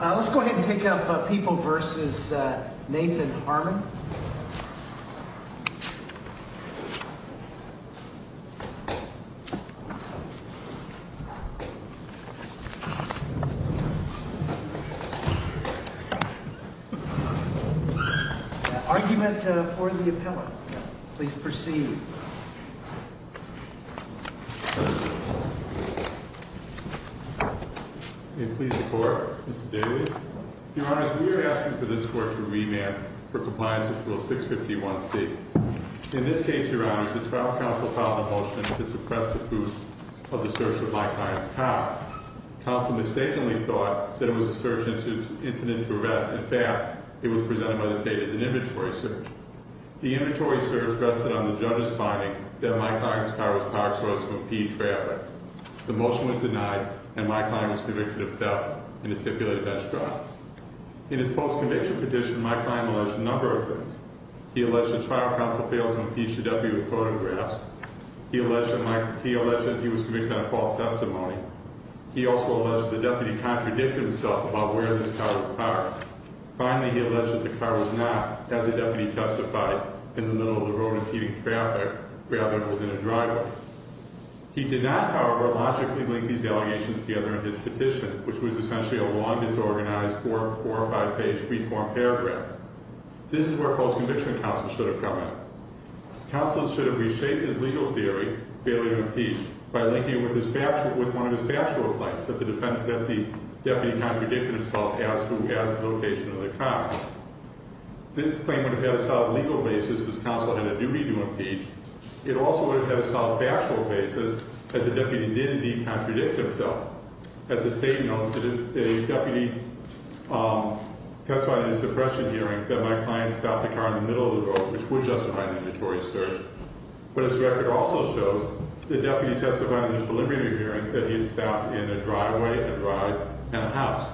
Let's go ahead and take up People v. Nathan Harmon. Argument for the appellant. Please proceed. Please support. We're asking for this court to remand for compliance with Rule 651C. In this case, Your Honor, the trial counsel filed a motion to suppress the proof of the search of Mike Klein's car. Counsel mistakenly thought that it was a search incident to arrest. In fact, it was presented by the state as an inventory search. The inventory search rested on the judge's finding that Mike Klein's car was a power source to impede traffic. The motion was denied, and Mike Klein was convicted of theft in a stipulated bench drive. In his post-conviction petition, Mike Klein alleged a number of things. He alleged that trial counsel failed to impeach the deputy with photographs. He alleged that he was convicted on false testimony. He also alleged that the deputy contradicted himself about where this car was parked. Finally, he alleged that the car was not, as the deputy testified, in the middle of the road impeding traffic, rather it was in a driveway. He did not, however, logically link these allegations together in his petition, which was essentially a long, disorganized, four- or five-page free-form paragraph. This is where post-conviction counsel should have come in. Counsel should have reshaped his legal theory, failure to impeach, by linking it with one of his factual claims that the deputy contradicted himself as to the location of the car. This claim would have had a solid legal basis, as counsel had a duty to impeach. It also would have had a solid factual basis, as the deputy did indeed contradict himself. As the State notes, the deputy testified in a suppression hearing that Mike Klein stopped the car in the middle of the road, which would justify an inventory search. But his record also shows the deputy testified in a preliminary hearing that he had stopped in a driveway, a drive, and a house.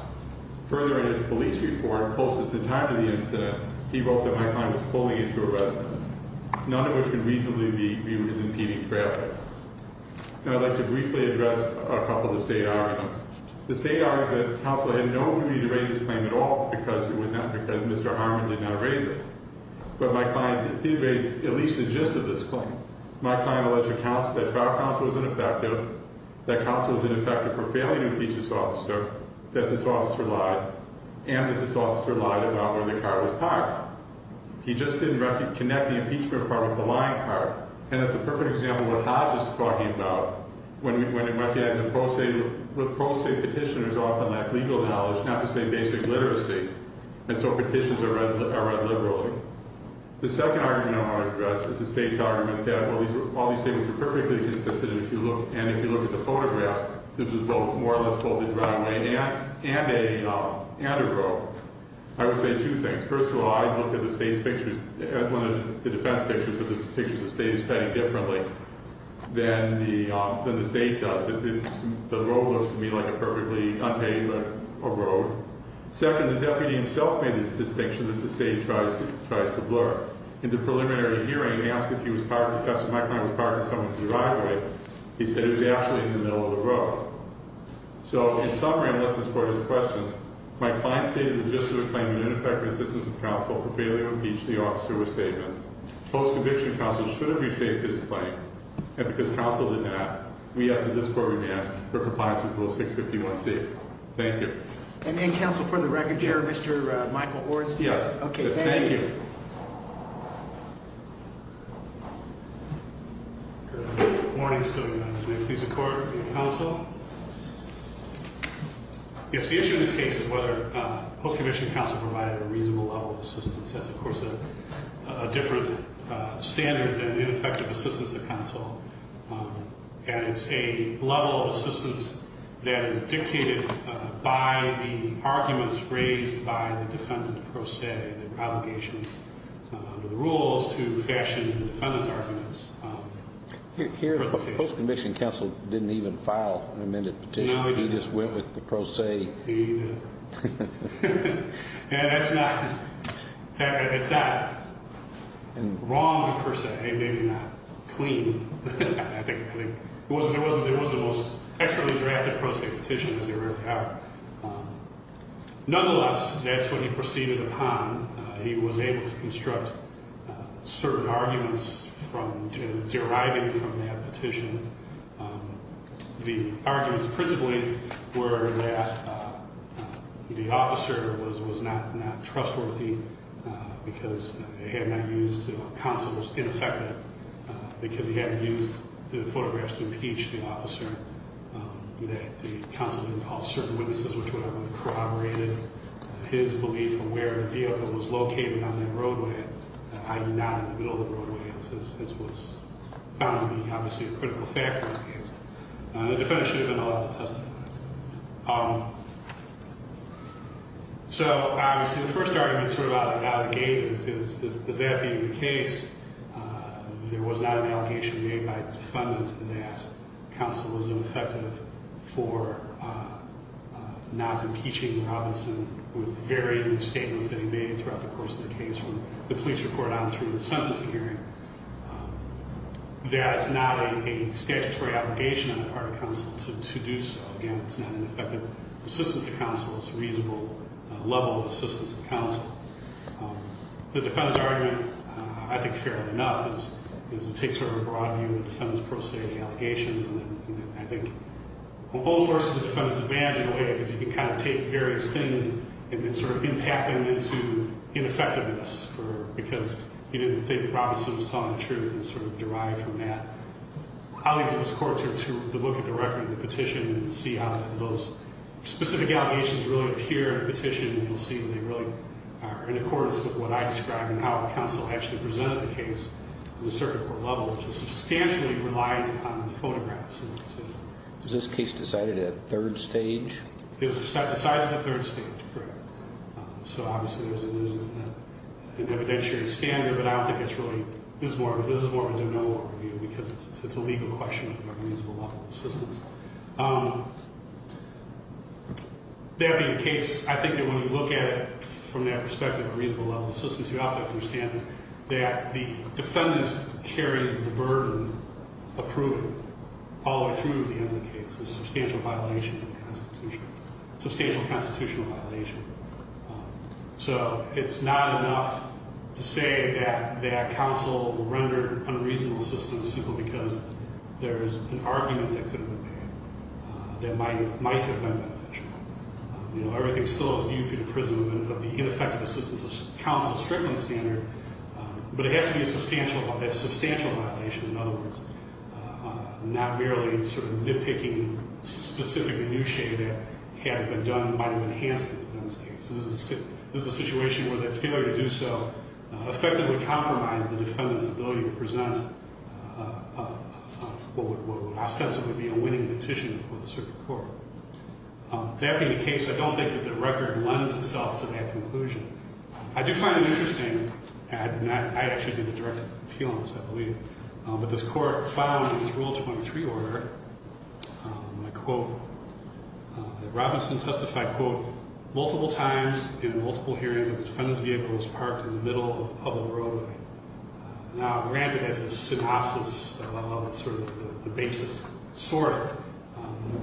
Further, in his police report, closest in time to the incident, he wrote that Mike Klein was pulling into a residence, none of which could reasonably be viewed as impeding traffic. Now, I'd like to briefly address a couple of the State arguments. The State argument is that counsel had no duty to raise this claim at all, because Mr. Harmon did not raise it. But Mike Klein did. He raised at least the gist of this claim. Mike Klein alleged that trial counsel was ineffective, that counsel was ineffective for failing to impeach this officer, that this officer lied, and that this officer lied about where the car was parked. He just didn't connect the impeachment part with the lying part. And that's a perfect example of what Hodges is talking about, when he recognizes that pro se petitioners often lack legal knowledge, not to say basic literacy, and so petitions are read liberally. The second argument I want to address is the State's argument that, well, all these statements are perfectly consistent, and if you look at the photographs, this is both more or less both a driveway and a road. I would say two things. First of all, I'd look at the State's pictures, at one of the defense pictures, but the picture of the State is cited differently than the State does. The road looks to me like a perfectly unpaved road. Second, the deputy himself made this distinction that the State tries to blur. In the preliminary hearing, he asked if he was parked, if Mr. Mike Klein was parked in some of the driveway. He said it was actually in the middle of the road. So, in summary, unless this court has questions, my client stated the gist of the claim in ineffective assistance of counsel for failing to impeach the officer with statements. Post-conviction counsel should have reshaped his claim, and because counsel did not, we ask that this court be asked for compliance with Rule 651C. Thank you. And then, counsel, for the record, do you have Mr. Michael Horst? Yes. Okay, thank you. Thank you. Good morning. Stilwell, United Way. Please accord the counsel. Yes, the issue in this case is whether post-conviction counsel provided a reasonable level of assistance. That's, of course, a different standard than ineffective assistance of counsel, and it's a level of assistance that is dictated by the arguments raised by the defendant pro se, the obligation under the rules to fashion the defendant's arguments. Here, the post-conviction counsel didn't even file an amended petition. No, he didn't. He just went with the pro se. He did. And that's not wrong, per se. Maybe not clean, I think. There wasn't the most expertly drafted pro se petition, as there really are. Nonetheless, that's what he proceeded upon. He was able to construct certain arguments deriving from that petition. The arguments principally were that the officer was not trustworthy because they had not used counsel as ineffective because he hadn't used the photographs to impeach the officer, that the counsel didn't call certain witnesses, which would have corroborated his belief of where the vehicle was located on that roadway, hiding out in the middle of the roadway, as was found to be, obviously, a critical factor in this case. The defendant should have been allowed to testify. So, obviously, the first argument sort of out of the gate is, is that being the case, there was not an allegation made by the defendant that counsel was ineffective for not impeaching Robinson with varying statements that he made throughout the course of the case, from the police report on through to the sentencing hearing. That's not a statutory allegation on the part of counsel to do so. Again, it's not an effective assistance to counsel. It's a reasonable level of assistance to counsel. The defendant's argument, I think, fair enough, is to take sort of a broad view of the defendant's pro se allegations. And I think the whole source of the defendant's advantage, in a way, is he can kind of take various things and then sort of impact them into ineffectiveness because he didn't think Robinson was telling the truth and sort of derive from that. I'll leave it to this court to look at the record of the petition and see how those specific allegations really appear in the petition and we'll see if they really are in accordance with what I described and how counsel actually presented the case on the circuit court level, which is substantially relied upon the photographs. Was this case decided at third stage? It was decided at third stage, correct. So obviously there's an evidentiary standard, but I don't think it's really This is more of a general overview because it's a legal question of a reasonable level of assistance. That being the case, I think that when you look at it from that perspective, a reasonable level of assistance, you have to understand that the defendant carries the burden of proving all the way through the end of the case is a substantial constitutional violation. So it's not enough to say that counsel will render unreasonable assistance simply because there's an argument that could have been made, that might have been made. Everything still is viewed through the prism of the ineffective assistance of counsel strictly standard, but it has to be a substantial violation. In other words, not merely sort of nitpicking specifically new shade that had been done, might have been enhanced in this case. This is a situation where that failure to do so effectively compromised the defendant's ability to present what would ostensibly be a winning petition for the circuit court. That being the case, I don't think that the record lends itself to that conclusion. I do find it interesting, and I actually did the direct appeal on this, I believe, but this court found in its Rule 23 order, and I quote, that Robinson testified, quote, multiple times in multiple hearings that the defendant's vehicle was parked in the middle of a public road. Now, granted, that's a synopsis of sort of the basis, sort of,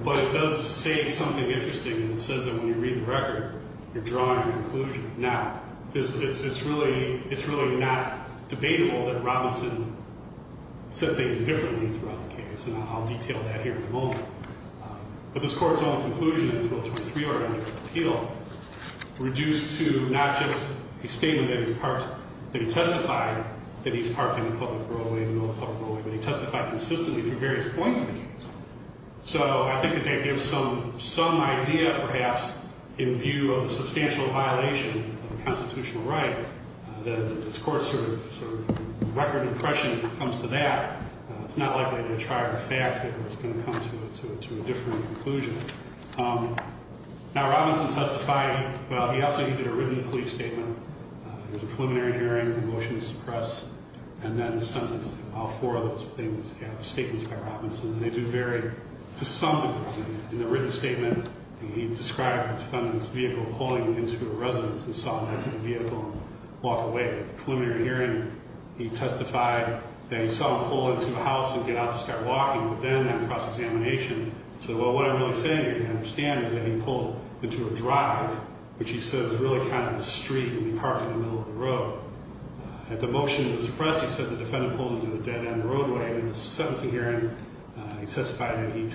but it does say something interesting. It says that when you read the record, you're drawing a conclusion. Now, it's really not debatable that Robinson said things differently throughout the case, and I'll detail that here in a moment, but this court's own conclusion in its Rule 23 order in the appeal reduced to not just a statement that he testified that he's parked in a public roadway, middle of a public roadway, but he testified consistently through various points in the case. So I think that that gives some idea, perhaps, in view of the substantial violation of a constitutional right. This court's sort of record impression when it comes to that, it's not likely to try to fax it or it's going to come to a different conclusion. Now, Robinson testified, well, he also did a written police statement. It was a preliminary hearing, a motion to suppress, and then sentenced all four of those statements by Robinson. And they do vary to some degree. In the written statement, he described the defendant's vehicle pulling him into a residence and saw him exit the vehicle and walk away. At the preliminary hearing, he testified that he saw him pull into a house and get out to start walking, but then at the cross-examination, he said, well, what I'm really saying here to understand is that he pulled into a drive, which he said was really kind of a street, and he parked in the middle of the road. At the motion to suppress, he said the defendant pulled into a dead-end roadway. At the sentencing hearing, he testified that he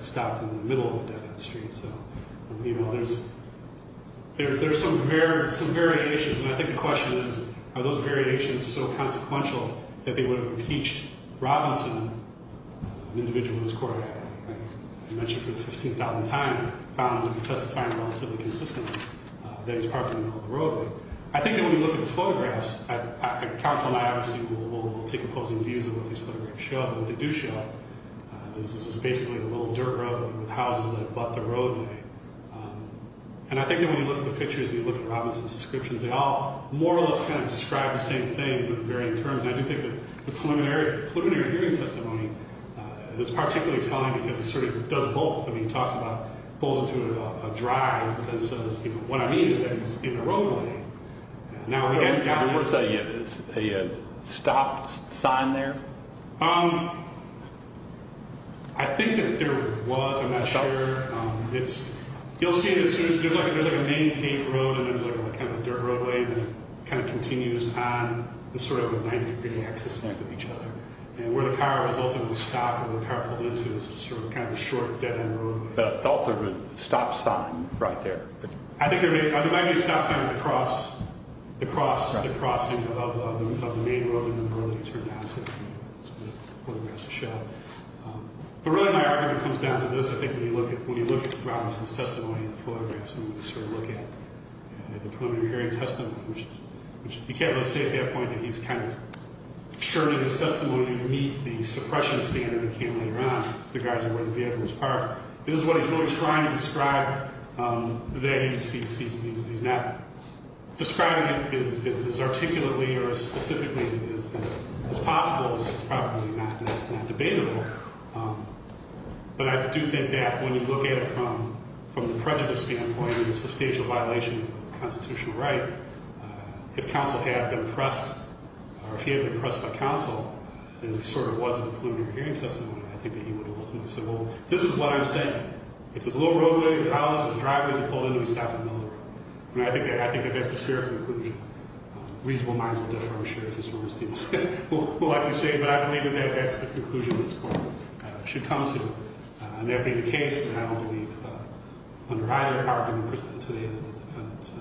stopped in the middle of a dead-end street. So, you know, there's some variations, and I think the question is, are those variations so consequential that they would have impeached Robinson, an individual in this court I mentioned for the 15th time, found him to be testifying relatively consistently that he was parking in the middle of the road. I think that when you look at the photographs, counsel and I obviously will take opposing views of what these photographs show, but what they do show is this is basically a little dirt road with houses that abut the roadway. And I think that when you look at the pictures and you look at Robinson's descriptions, they all more or less kind of describe the same thing, but vary in terms. And I do think that the preliminary hearing testimony is particularly telling because it sort of does both. I mean, he talks about pulls into a drive, but then says, you know, what I mean is that he's in a roadway. Now, was there a stop sign there? I think that there was. I'm not sure. You'll see it as soon as there's like a main paved road and there's kind of a dirt roadway that kind of continues on the sort of 90-degree axis with each other. And where the car was ultimately stopped and the car pulled into is sort of kind of a short dead-end roadway. But I thought there was a stop sign right there. I think there might be a stop sign across the crossing of the main road and the road that he turned down to photograph the shot. But really my argument comes down to this. I think when you look at Robinson's testimony in the photographs and when you sort of look at the preliminary hearing testimony, which you can't really say at that point that he's kind of sure that his testimony would meet the suppression standard that came later on regarding where the vehicle was parked. This is what he's really trying to describe. He's not describing it as articulately or specifically as possible. It's probably not debatable. But I do think that when you look at it from the prejudice standpoint and the substantial violation of constitutional right, if counsel had been pressed or if he had been pressed by counsel, as he sort of was in the preliminary hearing testimony, I think that he would have ultimately said, well, this is what I'm saying. It's a little roadway, there's houses, there's driveways, he pulled into them, he stopped in the middle of the road. I think that that's the fair conclusion. Reasonable minds will differ, I'm sure, if his words do. But I believe that that's the conclusion this court should come to. And that being the case, I don't believe under either argument today that the defendant's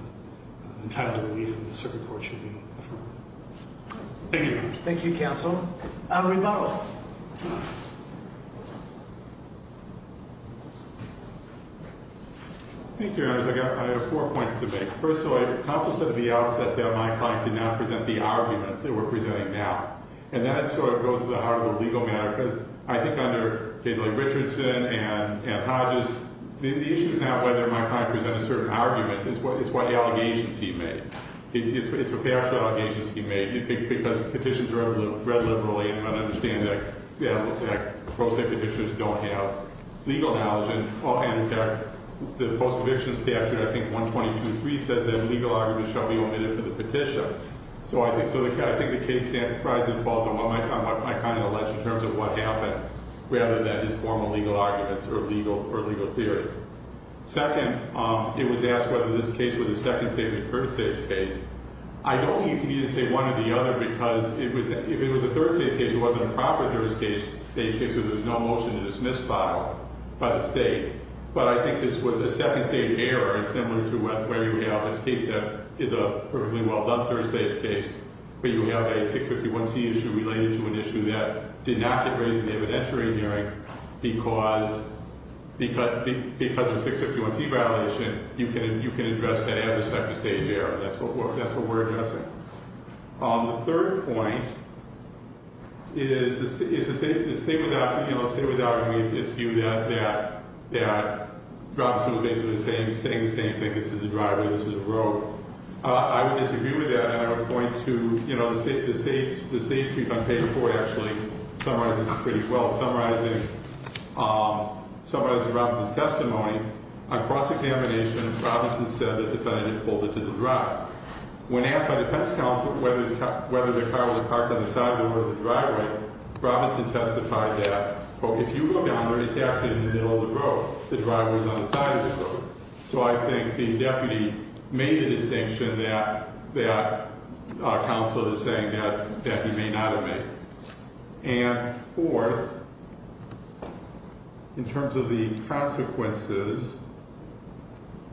entitlement to leave from the circuit court should be affirmed. Thank you very much. Thank you, counsel. Our rebuttal. Thank you, Your Honors. I have four points to make. First of all, counsel said at the outset that my client did not present the arguments that we're presenting now. And that sort of goes to the heart of the legal matter, because I think under cases like Richardson and Hodges, the issue is not whether my client presented certain arguments, it's what allegations he made. It's a factual allegation he made, because petitions are read liberally and I understand that pro se petitions don't have legal knowledge. And in fact, the post-conviction statute, I think, 122.3 says that legal arguments shall be omitted for the petition. So I think the case standard probably falls on what my client alleged in terms of what happened, rather than his formal legal arguments or legal theories. Second, it was asked whether this case was a second-stage or third-stage case. I don't think you can either say one or the other, because if it was a third-stage case, it wasn't a proper third-stage case, so there's no motion to dismiss file by the state. But I think this was a second-stage error, and similar to where you have this case that is a perfectly well-done third-stage case, but you have a 651C issue related to an issue that did not get raised in the evidentiary hearing, because of the 651C violation, you can address that as a second-stage error. That's what we're addressing. The third point is the state was arguing its view that Robinson was basically saying the same thing, this is a driver, this is a road. I would disagree with that, and I would point to, you know, the state's brief on page 4 actually summarizes it pretty well. It summarizes Robinson's testimony on cross-examination, and Robinson said that the defendant pulled into the driveway. When asked by defense counsel whether the car was parked on the side of the road or the driveway, Robinson testified that, quote, if you go down there, it's actually in the middle of the road. The driveway is on the side of the road. So I think the deputy made the distinction that our counsel is saying that he may not have made. And fourth, in terms of the consequences,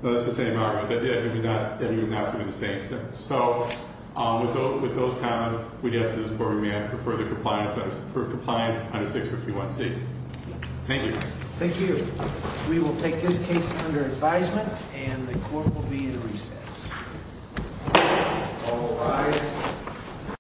that's the same argument, that he was not doing the same thing. So with those comments, we'd ask that this court remain for further compliance under 651C. Thank you. Thank you. We will take this case under advisement, and the court will be in recess. All rise.